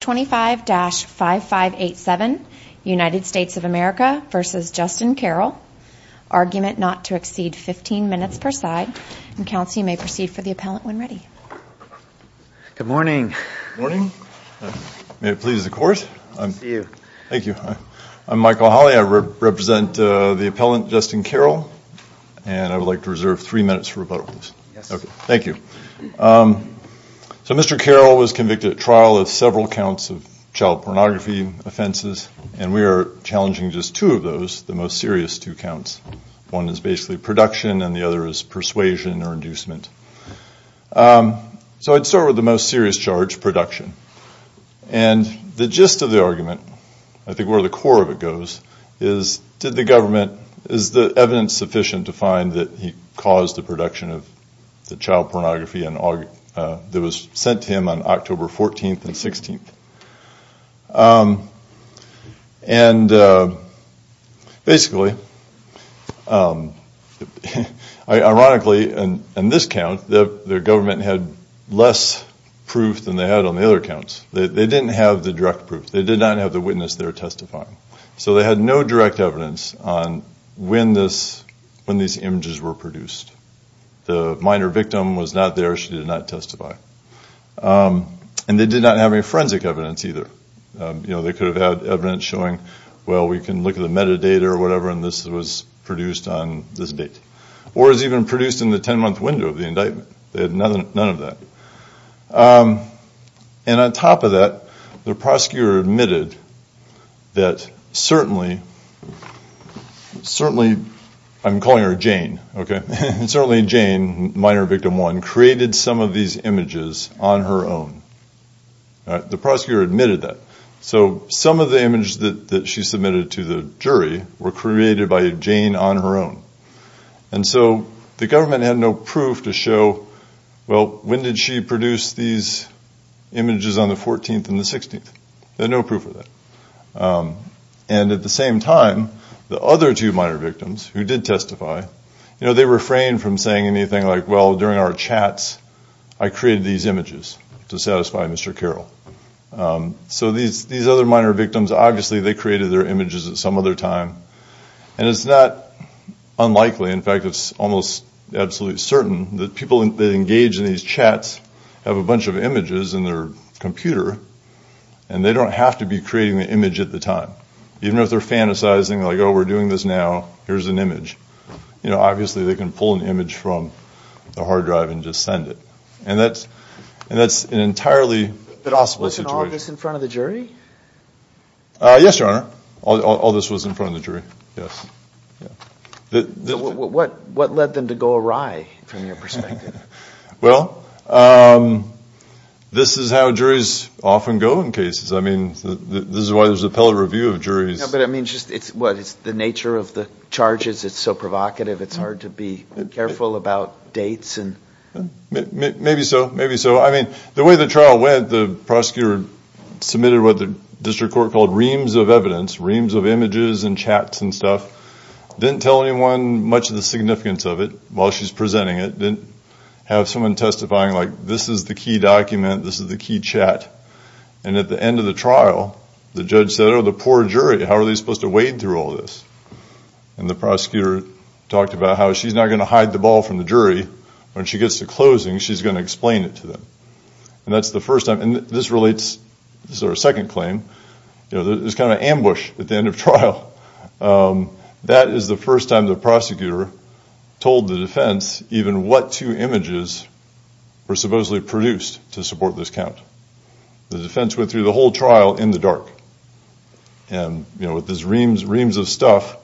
25-5587 United States of America v. Justin Carroll Argument not to exceed 15 minutes per side Counsel, you may proceed for the appellant when ready Good morning May it please the Court I'm Michael Hawley, I represent the appellant Justin Carroll and I would like to reserve three minutes for rebuttal Thank you So Mr. Carroll was convicted at trial of several counts of child pornography offenses and we are challenging just two of those, the most serious two counts One is basically production and the other is persuasion or inducement So I'd start with the most serious charge, production and the gist of the argument I think where the core of it goes is did the government, is the evidence sufficient to find that he was involved in the production of the child pornography that was sent to him on October 14th and 16th and basically ironically in this count the government had less proof than they had on the other counts, they didn't have the direct proof, they did not have the witness there testifying so they had no direct evidence on when this when these images were produced the minor victim was not there, she did not testify and they did not have any forensic evidence either you know they could have had evidence showing well we can look at the metadata or whatever and this was produced on this date or it was even produced in the ten month window of the indictment they had none of that and on top of that the prosecutor admitted that certainly certainly I'm calling her Jane, certainly Jane minor victim one created some of these images on her own the prosecutor admitted that so some of the images that she submitted to the jury were created by Jane on her own and so the government had no proof to show well when did she produce these images on the 14th and the 16th they had no proof of that and at the same time the other two minor victims who did testify you know they refrained from saying anything like well during our chats I created these images to satisfy Mr. Carroll so these other minor victims obviously they created their images at some other time and it's not unlikely in fact it's almost absolutely certain that people that engage in these chats have a bunch of images in their computer and they don't have to be creating the image at the time even if they're fantasizing like oh we're doing this now here's an image you know obviously they can pull an image from the hard drive and just send it and that's and that's an entirely possible situation. Wasn't all this in front of the jury? uh... yes your honor all this was in front of the jury what what led them to go awry from your perspective? well uh... this is how juries often go in cases I mean this is why there's appellate review of juries but I mean just it's what it's the nature of the charges it's so provocative it's hard to be careful about dates and maybe so maybe so I mean the way the trial went the prosecutor submitted what the district court called reams of evidence reams of images and chats and stuff didn't tell anyone much of the significance of it while she's presenting it didn't have someone testifying like this is the key document this is the key chat and at the end of the trial the judge said oh the poor jury how are they supposed to wade through all this? and the prosecutor talked about how she's not going to hide the ball from the jury when she gets to closing she's going to explain it to them and that's the first time and this relates this is our second claim there's kind of an ambush at the end of trial uh... that is the first time the prosecutor told the defense even what two images were supposedly produced to support this count the defense went through the whole trial in the dark and you know with these reams of stuff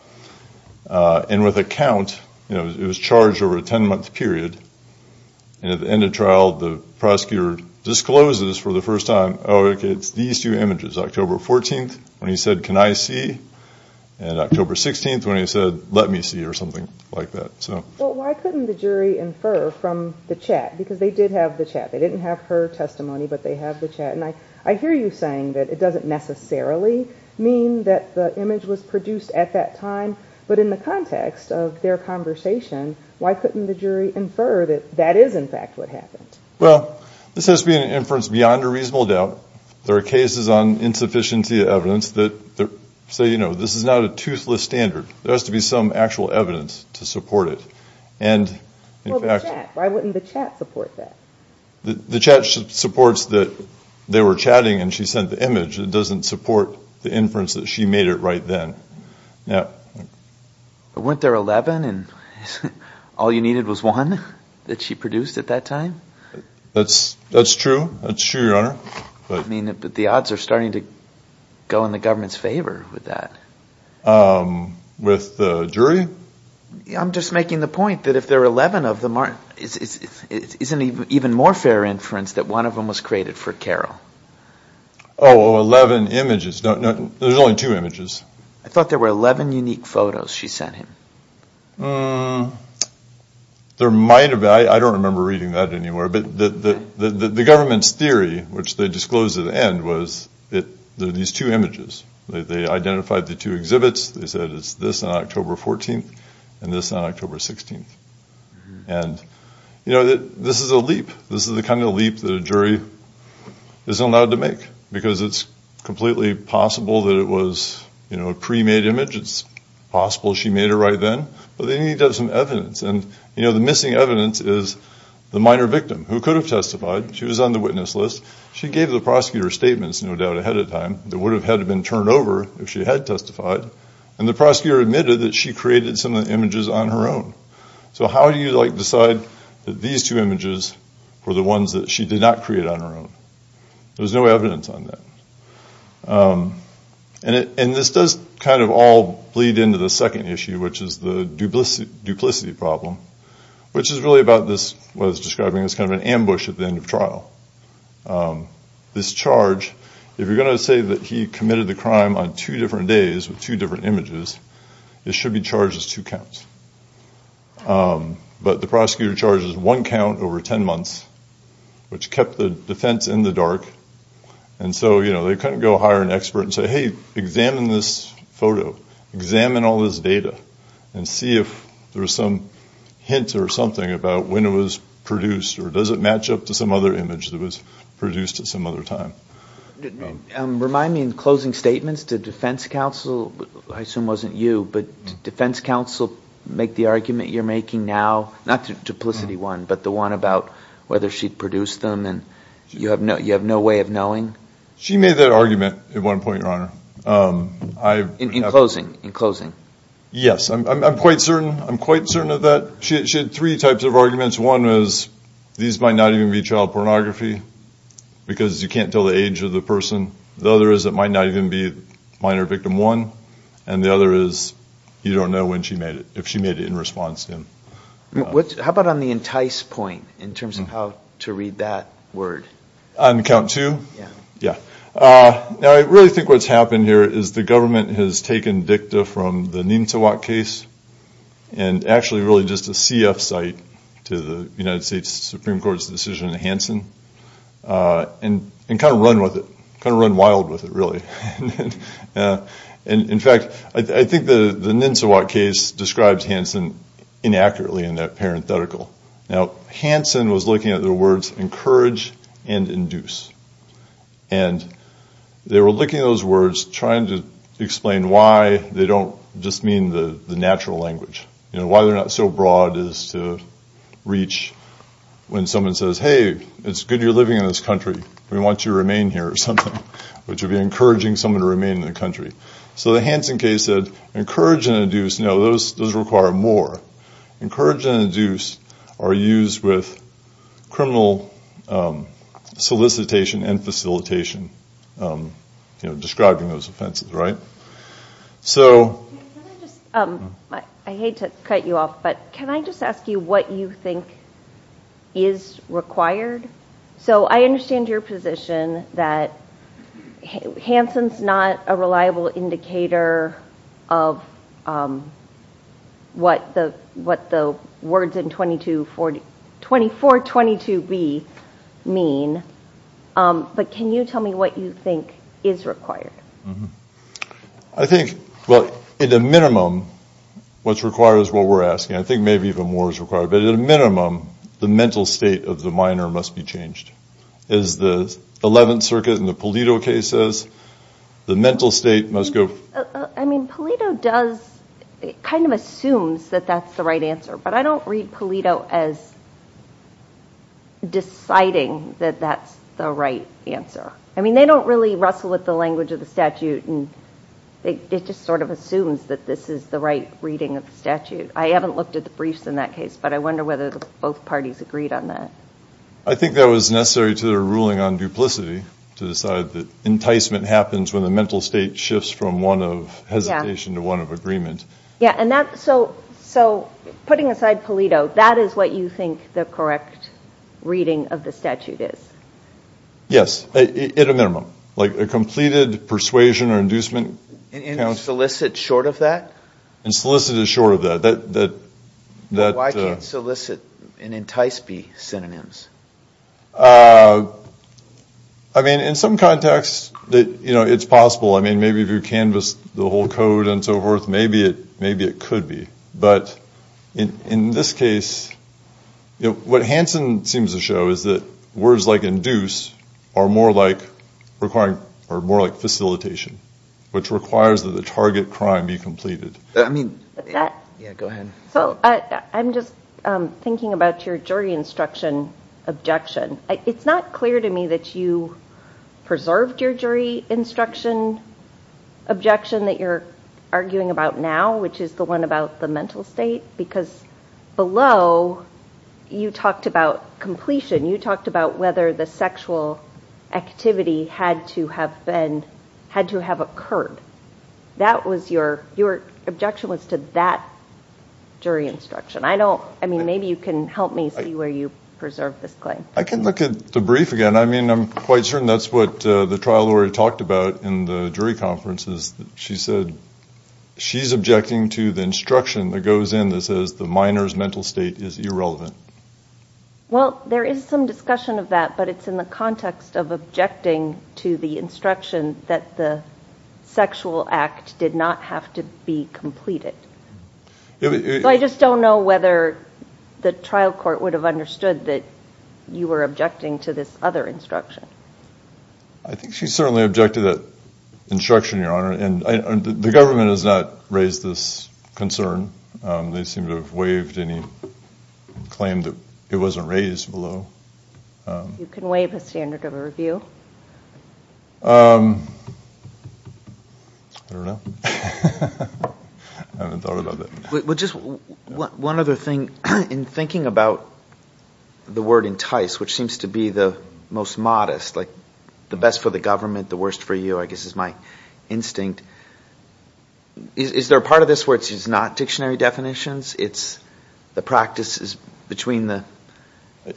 uh... and with a count it was charged over a ten month period and at the end of trial the prosecutor discloses for the first time oh it's these two images october fourteenth when he said can I see and october sixteenth when he said let me see or something like that so well why couldn't the jury infer from the chat because they did have the chat they didn't have her testimony but they have the chat i hear you saying that it doesn't necessarily mean that the image was produced at that time but in the context of their conversation why couldn't the jury infer that that is in fact what happened this has been an inference beyond a reasonable doubt there are cases on insufficiency of evidence that so you know this is not a toothless standard there has to be some actual evidence to support it why wouldn't the chat support that the chat supports that they were chatting and she sent the image it doesn't support the inference that she made it right then but weren't there eleven all you needed was one that she produced at that time that's true that's true your honor but the odds are starting to go in the government's favor with that uh... with uh... jury i'm just making the point that if there are eleven of them isn't it even more fair inference that one of them was created for carol oh eleven images there's only two images i thought there were eleven unique photos she sent him uh... there might have been i don't remember reading that anywhere but the the government's theory which they disclosed at the end was that these two images they identified the two exhibits they said it's this on october fourteenth and this on october sixteenth you know that this is a leap this is the kind of leap that a jury is allowed to make because it's completely possible that it was you know a pre-made image it's possible she made it right then but they need to have some evidence and you know the missing evidence is the minor victim who could have testified she was on the witness list she gave the prosecutor statements no doubt ahead of time that would have had been turned over if she had testified and the prosecutor admitted that she created some of the images on her own so how do you like decide that these two images were the ones that she did not create on her own there's no evidence on that uh... and it and this does kind of all bleed into the second issue which is the duplicity duplicity problem which is really about this was describing this kind of an ambush at the end of trial this charge if you're going to say that he committed the crime on two different days with two different images it should be charged as two counts but the prosecutor charges one count over ten months which kept the defense in the dark and so you know they couldn't go hire an expert and say hey examine this photo examine all this data and see if there's some evidence or something about when it was produced or does it match up to some other image that was produced at some other time remind me in closing statements to defense counsel I assume it wasn't you but defense counsel make the argument you're making now not the duplicity one but the one about whether she produced them and you have no you have no way of knowing she made that argument at one point your honor uh... in closing in closing yes I'm quite certain I'm quite certain of that she had three types of arguments one was these might not even be child pornography because you can't tell the age of the person the other is it might not even be minor victim one and the other is you don't know when she made it if she made it in response to him how about on the entice point in terms of how to read that on count two uh... I really think what's happened here is the government has taken dicta from the Nintowat case and actually really just a CF site to the United States Supreme Court's decision in Hansen uh... and and kind of run with it kind of run wild with it really and in fact I think the Nintowat case describes Hansen inaccurately in that parenthetical Hansen was looking at the words encourage and induce they were looking at those words trying to explain why they don't just mean the natural language you know why they're not so broad is to reach when someone says hey it's good you're living in this country we want you to remain here or something which would be encouraging someone to remain in the country so the Hansen case said encourage and induce, no those require more encourage and induce are used with criminal solicitation and facilitation uh... you know describing those offenses right so I hate to cut you off but can I just ask you what you think is required so I understand your position that Hansen's not a reliable indicator of what the words in 2422b mean uh... but can you tell me what you think is required I think at a minimum what's required is what we're asking I think maybe even more is required but at a minimum the mental state of the minor must be changed as the Eleventh Circuit in the Polito case says the mental state must go uh... I mean Polito does it kind of assumes that that's the right answer but I don't read Polito as deciding that that's the right answer I mean they don't really wrestle with the language of the statute it just sort of assumes that this is the right reading of the statute I haven't looked at the briefs in that case but I wonder whether both parties agreed on that I think that was necessary to the ruling on duplicity to decide that enticement happens when the mental state shifts from one of hesitation to one of agreement yeah and that so putting aside Polito that is what you think the correct reading of the statute is yes at a minimum like a completed persuasion or inducement and solicit short of that and solicit is short of that why can't solicit and entice be synonyms uh... I mean in some contexts that you know it's possible I mean maybe if you canvassed the whole code and so forth maybe it could be but in this case what Hansen seems to show is that words like induce are more like requiring or more like facilitation which requires that the target crime be completed I mean yeah go ahead so I'm just thinking about your jury instruction objection it's not clear to me that you preserved your jury instruction objection that you're arguing about now which is the one about the mental state because below you talked about completion you talked about whether the sexual activity had to have been had to have occurred that was your your objection was to that jury instruction I don't I mean maybe you can help me see where you preserved this claim I can look at the brief again I mean I'm quite certain that's what uh... the trial lawyer talked about in the jury conferences she said she's objecting to the instruction that goes in that says the minor's mental state is irrelevant well there is some discussion of that but it's in the context of objecting to the instruction that the sexual act did not have to be completed I just don't know whether the trial court would have understood that you were objecting to this other instruction I think she certainly objected to that instruction your honor and the government has not raised this concern they seem to have waived any claim that it wasn't raised below you can waive a standard of review uh... I don't know I haven't thought about that one other thing in thinking about the word entice which seems to be the most modest like the best for the government the worst for you I guess is my instinct is there a part of this where it's not dictionary definitions it's the practices between the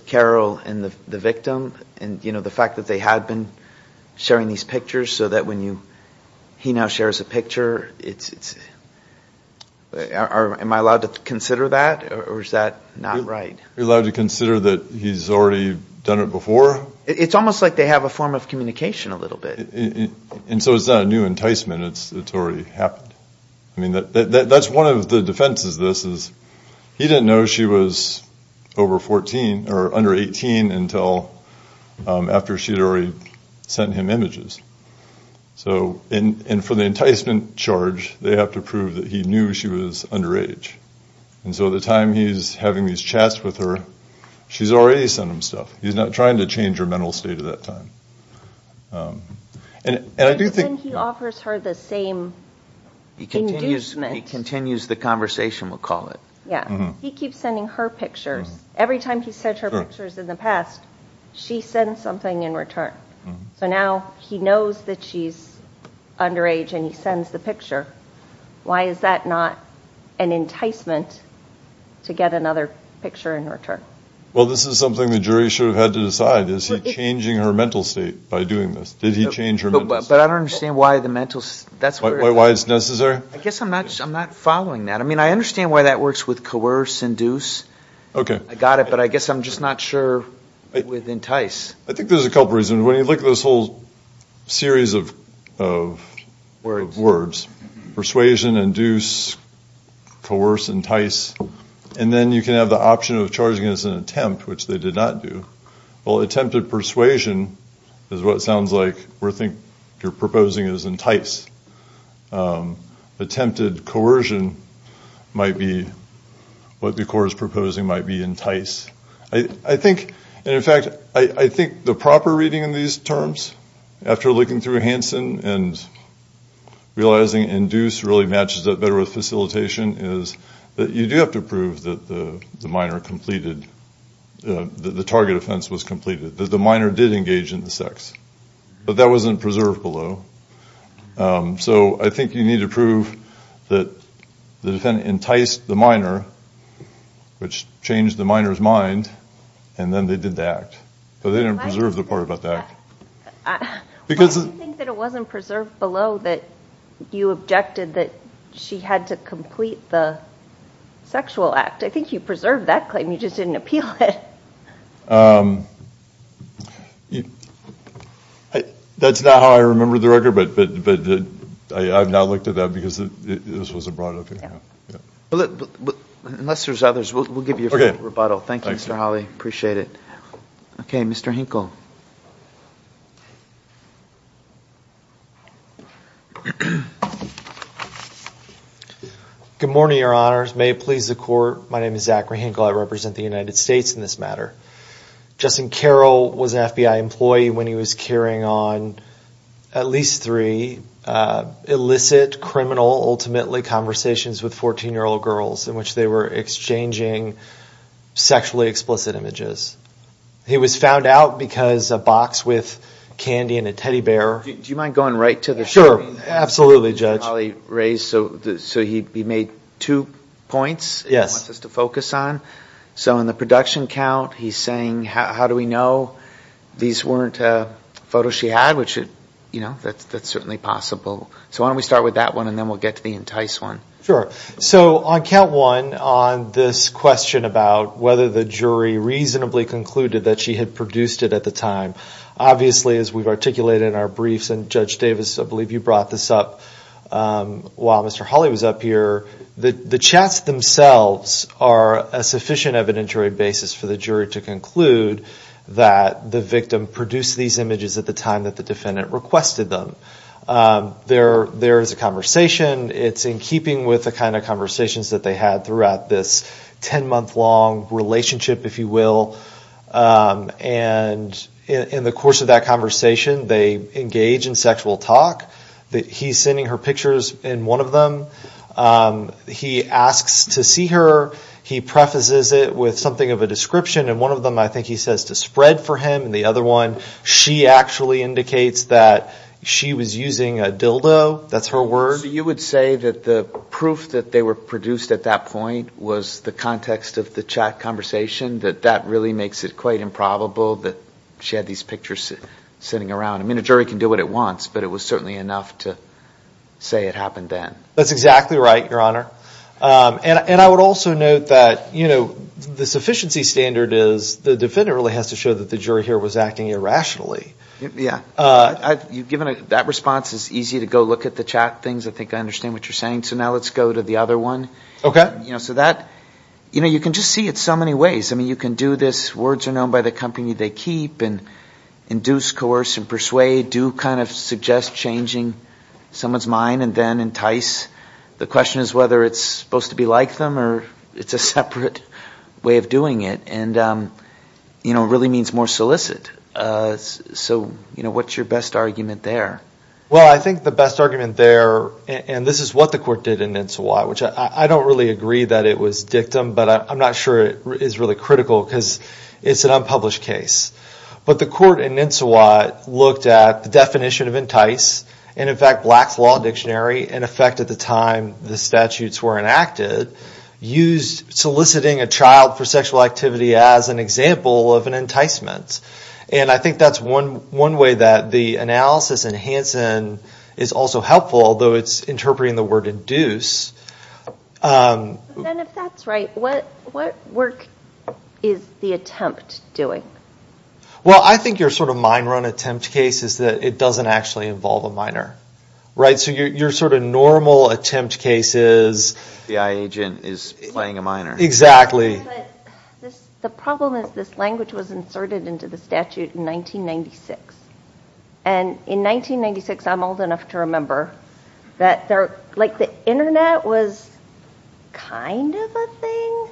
carol and the victim and you know the fact that they had been sharing these pictures so that when you he now shares a picture it's am I allowed to consider that or is that not right you're allowed to consider that he's already done it before it's almost like they have a form of communication a little bit and so it's not a new enticement it's already happened I mean that's one of the defenses of this is he didn't know she was over fourteen or under eighteen until uh... after she had already sent him images so and for the enticement charge they have to prove that he knew she was underage and so the time he's having these chats with her she's already sent him stuff he's not trying to change her mental state at that time and I do think he offers her the same he continues the conversation we'll call it yeah he keeps sending her pictures every time he sent her pictures in the past she sends something in return so now he knows that she's underage and he sends the picture why is that not an enticement to get another picture in return well this is something the jury should have had to decide is he changing her mental state by doing this did he change her mental state but I don't understand why the mental state that's why it's necessary I guess I'm not following that I mean I understand why that works with coerce induce okay I got it but I guess I'm just not sure with entice I think there's a couple reasons when you look at this whole series of words persuasion induce coerce entice and then you can have the option of charging as an attempt which they did not do well attempted persuasion is what sounds like you're proposing as entice attempted coercion might be what the court is proposing might be entice I think in fact I think the proper reading in these terms after looking through Hansen and realizing induce really matches up better with facilitation is that you do have to prove that the minor completed the target offense was completed that the minor did engage in the sex but that wasn't preserved below uh... so I think you need to prove that the defendant enticed the minor which changed the minor's mind and then they did the act but they didn't preserve the part about the act why do you think that it wasn't preserved below that you objected that she had to complete the sexual act I think you preserved that claim you just didn't appeal it uh... that's not how I remember the record but I've now looked at that because this was a brought up unless there's others we'll give you a free rebuttal thank you Mr. Hawley appreciate it okay Mr. Hinkle good morning your honors may it please the court my name is Zachary Hinkle I represent the united states in this matter Justin Carroll was an FBI employee when he was carrying on at least three uh... illicit criminal ultimately conversations with fourteen-year-old girls in which they were exchanging sexually explicit images he was found out because a box with candy and a teddy bear do you mind going right to the show absolutely judge so he made two points he wants us to focus on so in the production count he's saying how do we know these weren't uh... photos she had which you know that's that's certainly possible so why don't we start with that one and then we'll get to the entice one so on count one on this question about whether the jury reasonably concluded that she had produced it at the time obviously as we've articulated in our briefs and judge davis I believe you brought this up uh... while Mr. Hawley was up here the chats themselves are a sufficient evidentiary basis for the jury to that the victim produced these images at the time that the defendant requested them uh... there there is a conversation it's in keeping with the kind of conversations that they had throughout this ten-month long relationship if you will uh... and in the course of that conversation they engage in sexual talk he's sending her pictures in one of them uh... he asks to see her he prefaces it with something of a description and one of them i think he says to spread for him the other one she actually indicates that she was using a dildo that's her word you would say that the proof that they were produced at that point was the context of the chat conversation that that really makes it quite improbable that she had these pictures sitting around I mean a jury can do what it wants but it was certainly enough to say it happened then that's exactly right your honor uh... and and i would also note that you know the sufficiency standard is the defendant really has to show that the jury here was acting irrationally uh... you've given it that response is easy to go look at the chat things i think i understand what you're saying so now let's go to the other one okay you know so that you know you can just see it so many ways i mean you can do this words are known by the company they keep and induce coerce and persuade do kind of suggest changing someone's mind and then entice the question is whether it's supposed to be like them or it's a separate way of doing it and uh... you know really means more solicit uh... so you know what's your best argument there well i think the best argument there and this is what the court did in nensawa which i i i don't really agree that it was dictum but i i'm not sure it is really critical because it's an unpublished case but the court in nensawa looked at the definition of entice and in fact black's law dictionary in effect at the time the statutes were enacted used soliciting a child for sexual activity as an example of an enticement and i think that's one one way that the analysis in hansen is also helpful though it's interpreting the word induce uh... that's right what what work is the attempt well i think you're sort of minor on attempt cases that it doesn't actually involve a minor right so you're you're sort of normal attempt cases the i agent is playing a minor exactly the problem is this language was inserted into the statute in nineteen ninety six and in nineteen ninety six i'm old enough to remember that there like the internet was kind of a thing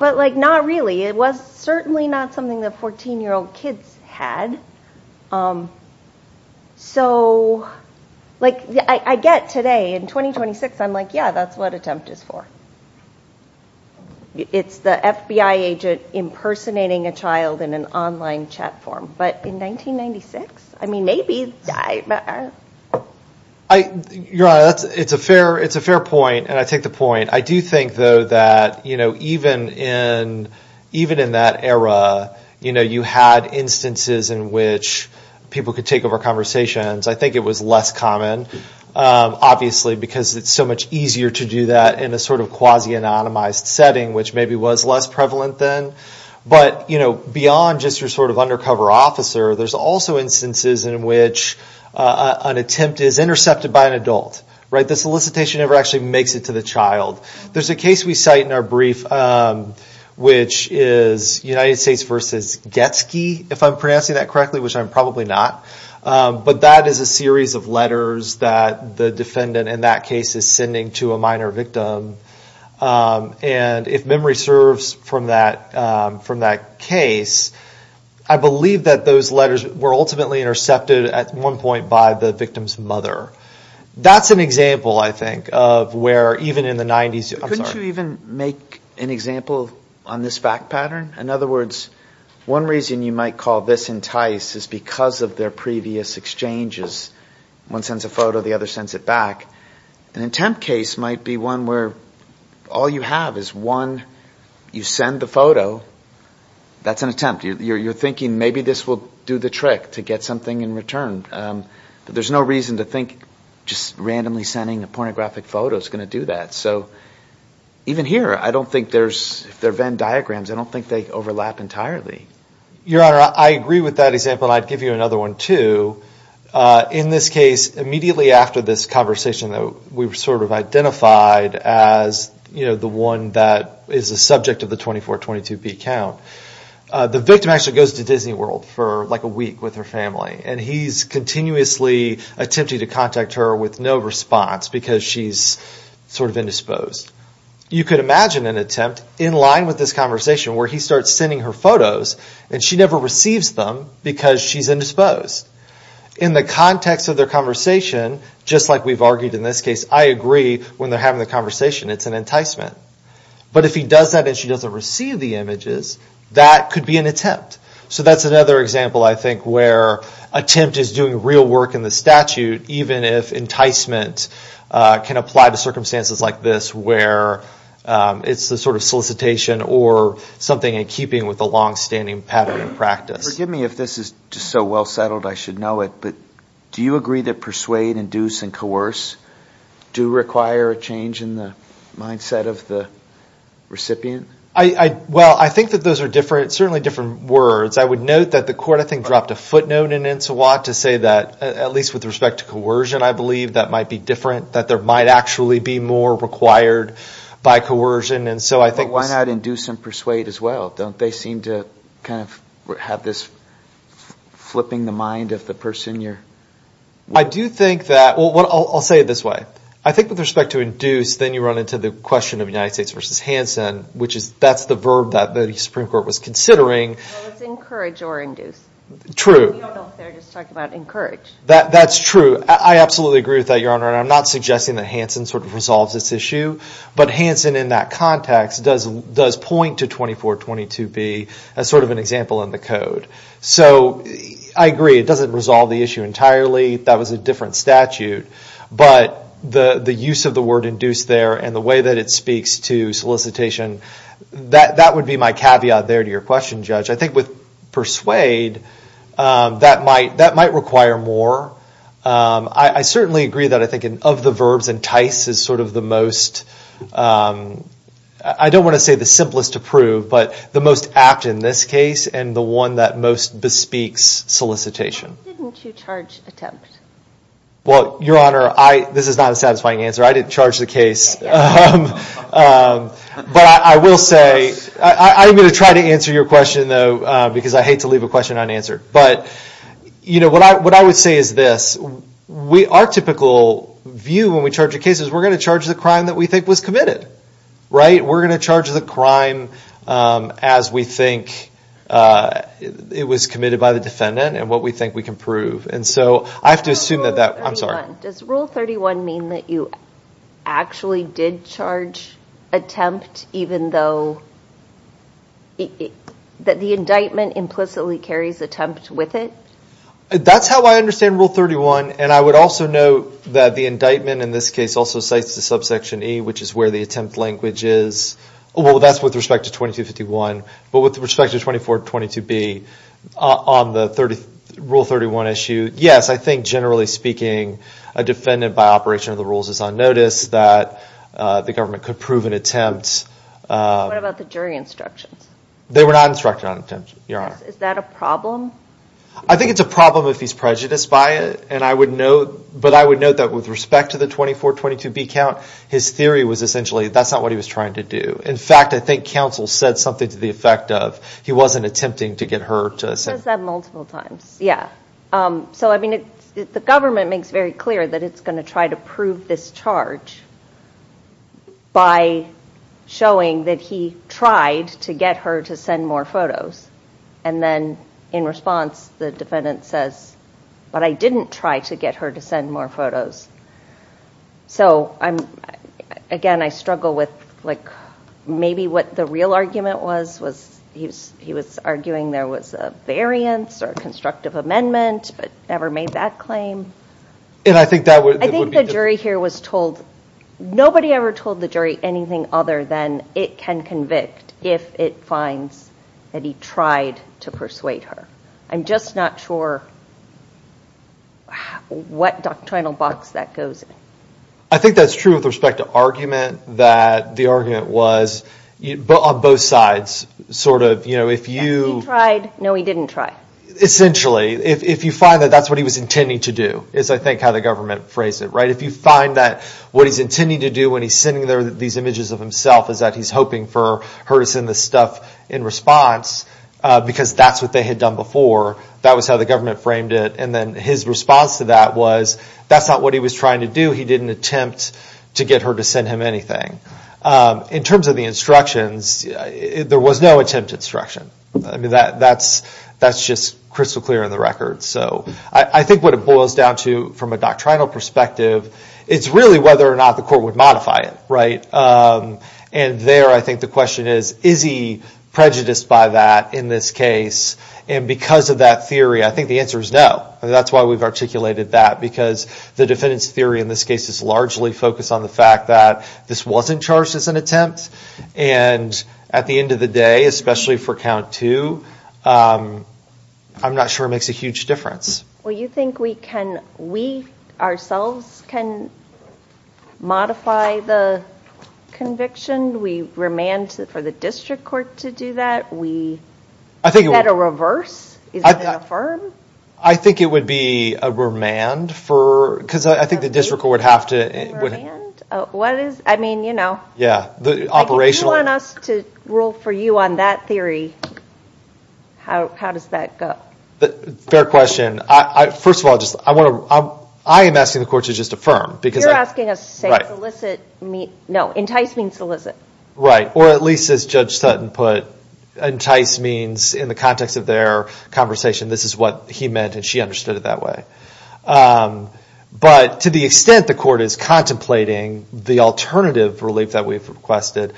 but like not really it was certainly not something that fourteen-year-old kids had so like i get today in twenty twenty six i'm like yeah that's what attempt is for it's the fbi agent impersonating a child in an online chat form but in nineteen ninety six i mean maybe it's a fair point and i take the point i do think though that you know even in even in that era you know you had instances in which people could take over conversations i think it was less common uh... obviously because it's so much easier to do that in a sort of quasi anonymized setting which maybe was less prevalent then but you know beyond just your sort of undercover officer there's also instances in which uh... an attempt is intercepted by an adult right the solicitation never actually makes it to the child there's a case we cite in our brief uh... which is united states versus get ski if i'm pronouncing that correctly which i'm probably not uh... but that is a series of letters that the defendant in that case is sending to a minor victim uh... and if memory serves from that uh... from that case i believe that those letters were ultimately intercepted at one point by the victim's mother that's an example i think of where even in the nineties you couldn't even make an example on this fact pattern in other words one reason you might call this entice is because of their previous exchanges one sends a photo the other sends it back an attempt case might be one where all you have is one you send the photo that's an attempt you're thinking maybe this will do the trick to get something in return there's no reason to think just randomly sending a pornographic photo is going to do that so even here i don't think there's if they're Venn diagrams i don't think they overlap entirely your honor i agree with that example i'd give you another one too uh... in this case immediately after this conversation though we've sort of identified as you know the one that is the subject of the 24-22p count uh... the victim actually goes to Disney World for like a week with her family and he's continuously attempting to contact her with no response because she's sort of indisposed you could imagine an attempt in line with this conversation where he starts sending her photos and she never receives them because she's indisposed in the context of their conversation just like we've argued in this case i agree when they're having the conversation it's an enticement but if he does that and she doesn't receive the images that could be an attempt so that's another example i think where attempt is doing real work in the statute even if enticement uh... can apply to circumstances like this where uh... it's the sort of solicitation or something in keeping with the long-standing pattern of practice forgive me if this is so well settled i should know it do you agree that persuade, induce, and coerce do require a change in the mindset of the recipient i well i think that those are different certainly different words i would note that the court i think dropped a footnote in it's a lot to say that at least with respect to coercion i believe that might be different that there might actually be more required by coercion and so i think why not induce and persuade as well don't they seem to have this flipping the mind of the person you're i do think that well i'll say it this way i think with respect to induce then you run into the question of united states versus hansen which is that's the verb that the supreme court was considering it's encourage or induce true that's true i absolutely agree with that your honor i'm not suggesting that hansen sort of resolves this issue but hansen in that context does point to 2422b as sort of an example in the code so i agree it doesn't resolve the issue entirely that was a different statute but the use of the word induce there and the way that it speaks to solicitation that that would be my caveat there to your question judge i think with persuade uh... that might that might require more uh... i i certainly agree that i think in of the verbs entice is sort of the most uh... i don't wanna say the simplest to prove but the most apt in this case and the one that most bespeaks solicitation why didn't you charge attempt? well your honor i this is not a satisfying answer i didn't charge the case uh... uh... but i will say i'm going to try to answer your question though because i hate to leave a question unanswered but you know what i what i would say is this we are typical view when we charge a case is we're going to charge the crime that we think was committed right we're going to charge the crime uh... as we think uh... it was committed by the defendant and what we think we can prove and so i have to assume that that i'm sorry does rule thirty one mean that you actually did charge attempt even though it that the indictment implicitly carries attempt with it that's how i understand rule thirty one and i would also note that the indictment in this case also states the subsection e which is where the attempt language is well that's with respect to twenty two fifty one but with respect to twenty four twenty two b uh... on the thirty rule thirty one issue yes i think generally speaking a defendant by operation of the rules is on notice that uh... the government could prove an attempt uh... what about the jury instructions they were not instructed on attempt your honor is that a problem i think it's a problem if he's prejudiced by it and i would note but i would note that with respect to the twenty four twenty two b count his theory was essentially that's not what he was trying to do in fact i think counsel said something to the effect of he wasn't attempting to get hurt uh... says that multiple times uh... so i mean it the government makes very clear that it's going to try to prove this charge by showing that he tried to get her to send more photos and then in response the defendant says but i didn't try to get her to send more photos so i'm again i struggle with maybe what the real argument was was he was arguing there was a variance or constructive amendment never made that claim and i think that would be the jury here was told nobody ever told the jury anything other than it can convict if it finds that he tried to persuade her i'm just not sure what doctrinal box that goes in i think that's true with respect to argument that the argument was on both sides sort of you know if you tried no he didn't try essentially if you find that that's what he was intending to do is i think how the government phrased it right if you find that what he's intending to do when he's sending these images of himself is that he's hoping for her to send this stuff in response uh... because that's what they had done before that was how the government framed it and then his response to that was that's not what he was trying to do he didn't attempt to get her to send him anything uh... in terms of the instructions uh... there was no attempt at instruction that that's that's just crystal clear in the record so i think what it boils down to from a doctrinal perspective it's really whether or not the court would modify it right uh... and there i think the question is is he prejudiced by that in this case and because of that theory i think the answer is no that's why we've articulated that because the defendant's theory in this case is largely focused on the fact that this wasn't charged as an attempt and at the end of the day especially for count two uh... i'm not sure makes a huge difference well you think we can ourselves modify the conviction we remand for the district court to do that we is that a reverse? is that an affirm? i think it would be a remand for because i think the district court would have to remand? uh... what is i mean you know yeah the operational if you want us to rule for you on that theory how does that go? fair question i first of all just i want to i am asking the court to just affirm because you're asking us to say no entice means solicit right or at least as judge sutton put entice means in the context of their conversation this is what he meant and she understood it that way uh... but to the extent the court is contemplating the alternative relief that we've requested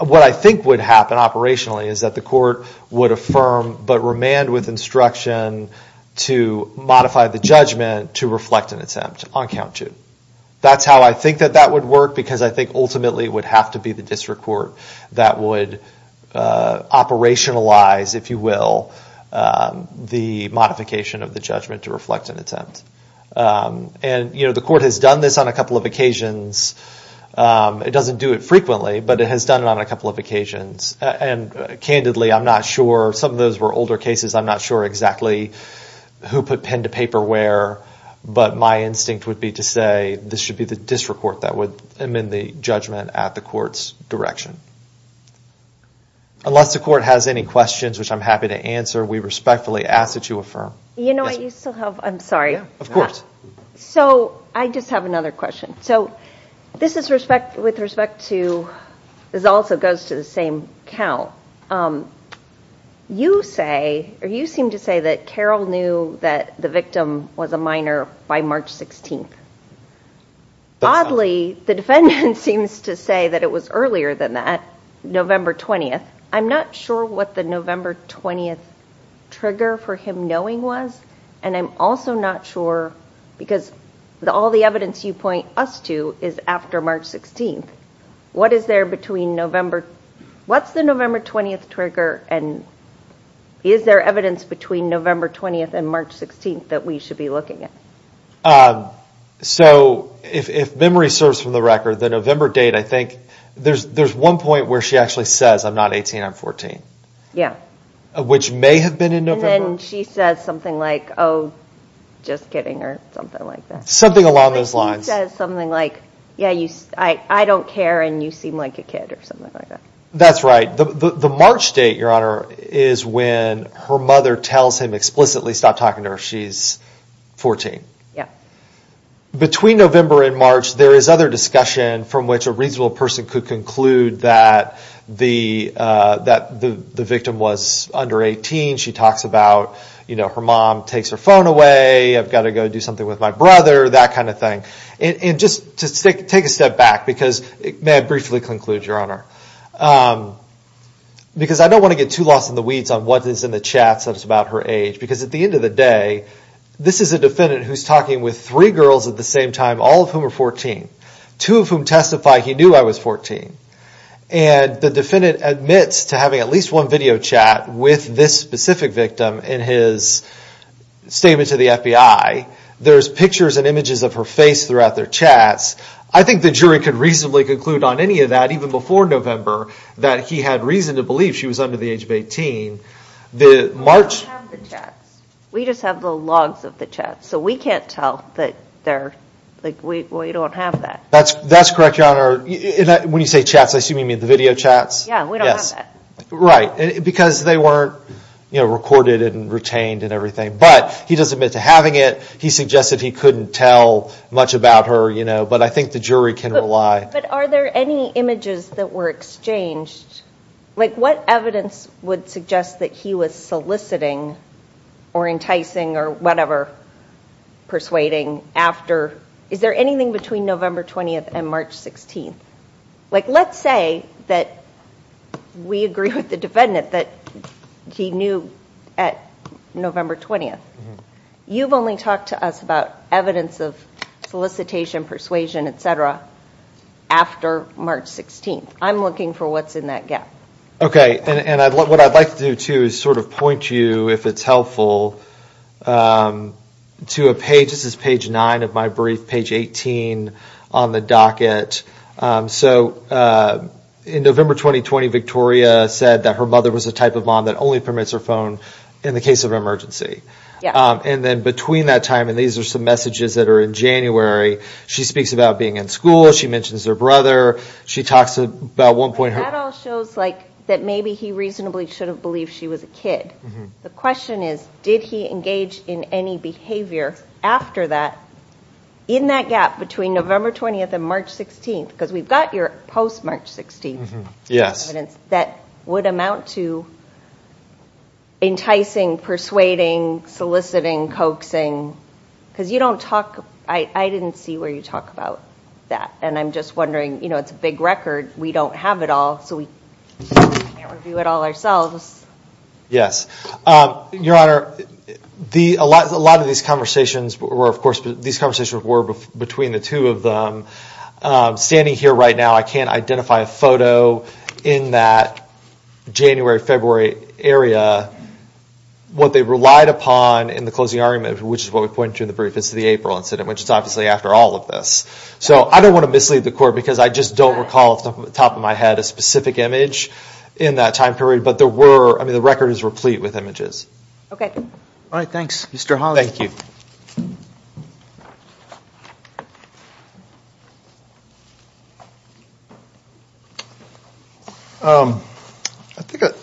what i think would happen operationally is that the court would affirm but remand with instruction to modify the judgment to reflect an attempt on count two that's how i think that that would work because i think ultimately would have to be the district court that would uh... operationalize if you will uh... the modification of the judgment to reflect an attempt uh... and you know the court has done this on a couple of occasions uh... it doesn't do it frequently but it has done on a couple of occasions and candidly i'm not sure some of those were older cases i'm not sure exactly who put pen to paper where but my instinct would be to say this should be the district court that would amend the judgment at the court's direction unless the court has any questions which i'm happy to answer we respectfully ask that you affirm you know i still have i'm sorry so i just have another question so this is respect with respect to this also goes to the same count you say or you seem to say that carol knew that the victim was a minor by march sixteenth oddly the defendant seems to say that it was earlier than that november twentieth i'm not sure what the november twentieth trigger for him knowing was and i'm also not sure all the evidence you point us to is after march sixteenth what is there between november what's the november twentieth trigger and is there evidence between november twentieth and march sixteenth that we should be looking at so if memory serves from the record the november date i think there's there's one point where she actually says i'm not eighteen i'm fourteen which may have been in november and she says something like oh just kidding or something like that something along those lines something like yeah you i don't care and you seem like a kid or something like that that's right the march date your honor is when her mother tells him explicitly stop talking to her she's fourteen between november and march there is other discussion from which a reasonable person could conclude that the uh... that the the victim was under eighteen she talks about you know her mom takes her phone away i've got to go do something with my brother that kind of thing and just to take a step back because may i briefly conclude your honor uh... because i don't want to get too lost in the weeds on what is in the chats that is about her age because at the end of the day this is a defendant who's talking with three girls at the same time all of whom are fourteen two of whom testify he knew i was fourteen and the defendant admits to having at least one video chat with this specific victim in his statement to the fbi there's pictures and images of her face throughout their chats i think the jury could reasonably conclude on any of that even before november that he had reason to believe she was under the age of eighteen the march we just have the logs of the chat so we can't tell like we don't have that that's that's correct your honor when you say chats i assume you mean the video chats yeah we don't have that right because they weren't recorded and retained and everything but he does admit to having it he suggested he couldn't tell much about her you know but i think the jury can rely but are there any images that were exchanged like what evidence would suggest that he was soliciting or enticing or whatever persuading after is there anything between november twentieth and march sixteenth like let's say we agree with the defendant that he knew november twentieth you've only talked to us about evidence of solicitation persuasion et cetera after march sixteenth i'm looking for what's in that gap okay and what i'd like to do too is sort of point you if it's helpful uh... to a page this is page nine of my brief page eighteen on the docket uh... so uh... in november twenty twenty victoria said that her mother was a type of mom that only permits her phone in the case of emergency uh... and then between that time and these are some messages that are in january she speaks about being in school she mentions her brother she talks about one point that maybe he reasonably should have believed she was a kid the question is did he engage in any behavior after that in that gap between november twentieth and march sixteenth because we've got post-march sixteenth that would amount to enticing persuading soliciting coaxing because you don't talk i didn't see where you talk about that and i'm just wondering you know it's a big record we don't have it all so we can't review it all ourselves your honor a lot of these conversations were of course these conversations were between the two of them uh... standing here right now i can't identify a photo in that january february area what they relied upon in the closing argument which is what we point to in the brief is the april incident which is obviously after all of this so i don't want to mislead the court because i just don't recall off the top of my head a specific image in that time period but there were i mean the record is replete with images okay alright thanks mister holly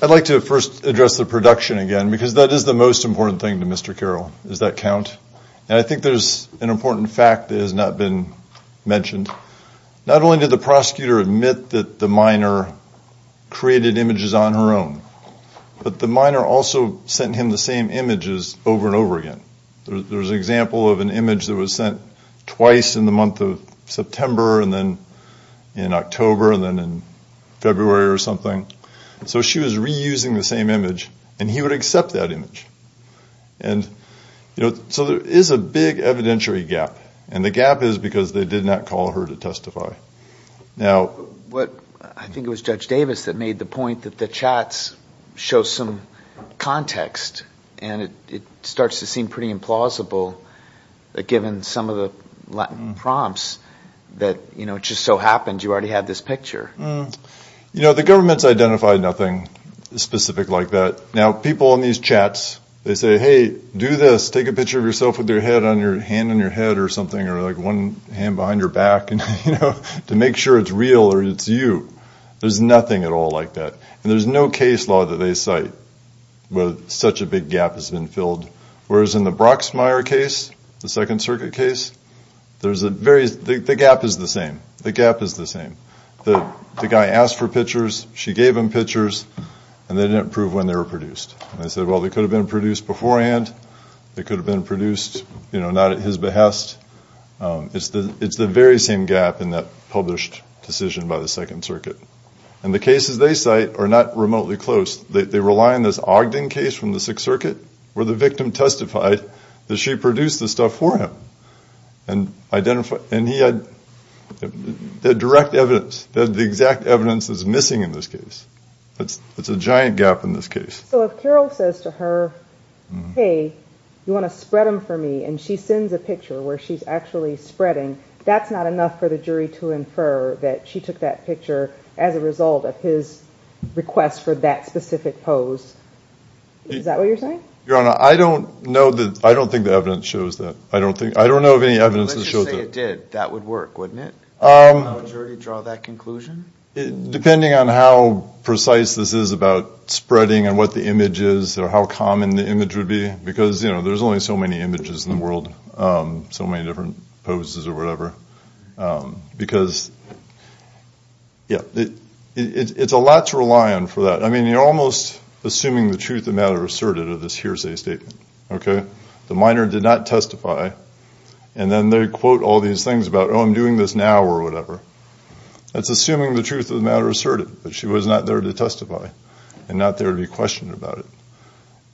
i'd like to first address the production again because that is the most important thing to mister carroll does that count and i think there's an important fact that has not been mentioned not only did the prosecutor admit that the minor created images on her own but the minor also sent him the same images over and over again there's an example of an image that was sent twice in the month of september and then in october and then in february or something so she was reusing the same image and he would accept that image so there is a big evidentiary gap and the gap is because they did not call her to testify now i think it was judge davis that made the point that the chats show some context and it starts to seem pretty implausible given some of the latin prompts that you know it just so happened you already have this picture you know the government's identified nothing specific like that now people in these chats they say hey do this take a picture of yourself with your hand on your back to make sure it's real or it's you there's nothing at all like that there's no case law that they cite where such a big gap has been filled whereas in the brocksmeyer case the second circuit case the gap is the same the gap is the same the guy asked for pictures she gave him pictures and they didn't prove when they were produced they said well they could have been produced beforehand they could have been produced you know not at his behest it's the very same gap in that published decision by the second circuit and the cases they cite are not remotely close they rely on this ogden case from the sixth circuit where the victim testified that she produced the stuff for him and he had direct evidence that the exact evidence is missing in this case it's a giant gap in this case so if carol says to her hey you want to spread them for me and she sends a picture where she's actually spreading that's not enough for the jury to infer that she took that picture as a result of his request for that specific pose is that what you're saying? your honor i don't know that i don't think the evidence shows that i don't think i don't know of any evidence that shows that let's just say it did that would work wouldn't it? would the jury draw that conclusion? depending on how precise this is about spreading and what the image is or how common the image would be because you know there's only so many images in the world uh... so many different poses or whatever uh... because yeah it's a lot to rely on for that i mean you're almost assuming the truth of the matter asserted in this hearsay statement the minor did not testify and then they quote all these things about oh i'm doing this now or whatever it's assuming the truth of the matter asserted but she was not there to testify and not there to be questioned about it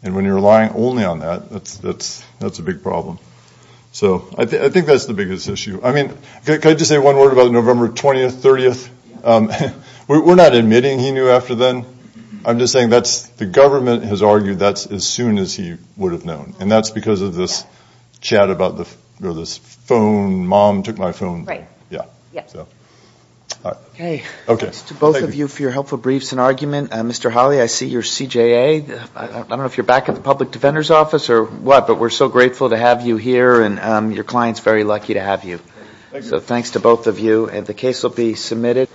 and when you're relying only on that that's that's that's a big problem so i think i think that's the biggest issue i mean can i just say one word about november twentieth thirtieth we're not admitting he knew after then i'm just saying that's the government has argued that's as soon as he would have known and that's because of this chat about the you know this phone mom took my phone right okay to both of you for your helpful briefs and argument and mister holly i see your cj a uh... i don't know if you're back in the public defender's office or what but we're so grateful to have you here and uh... your clients very lucky to have you so thanks to both of you and the case will be submitted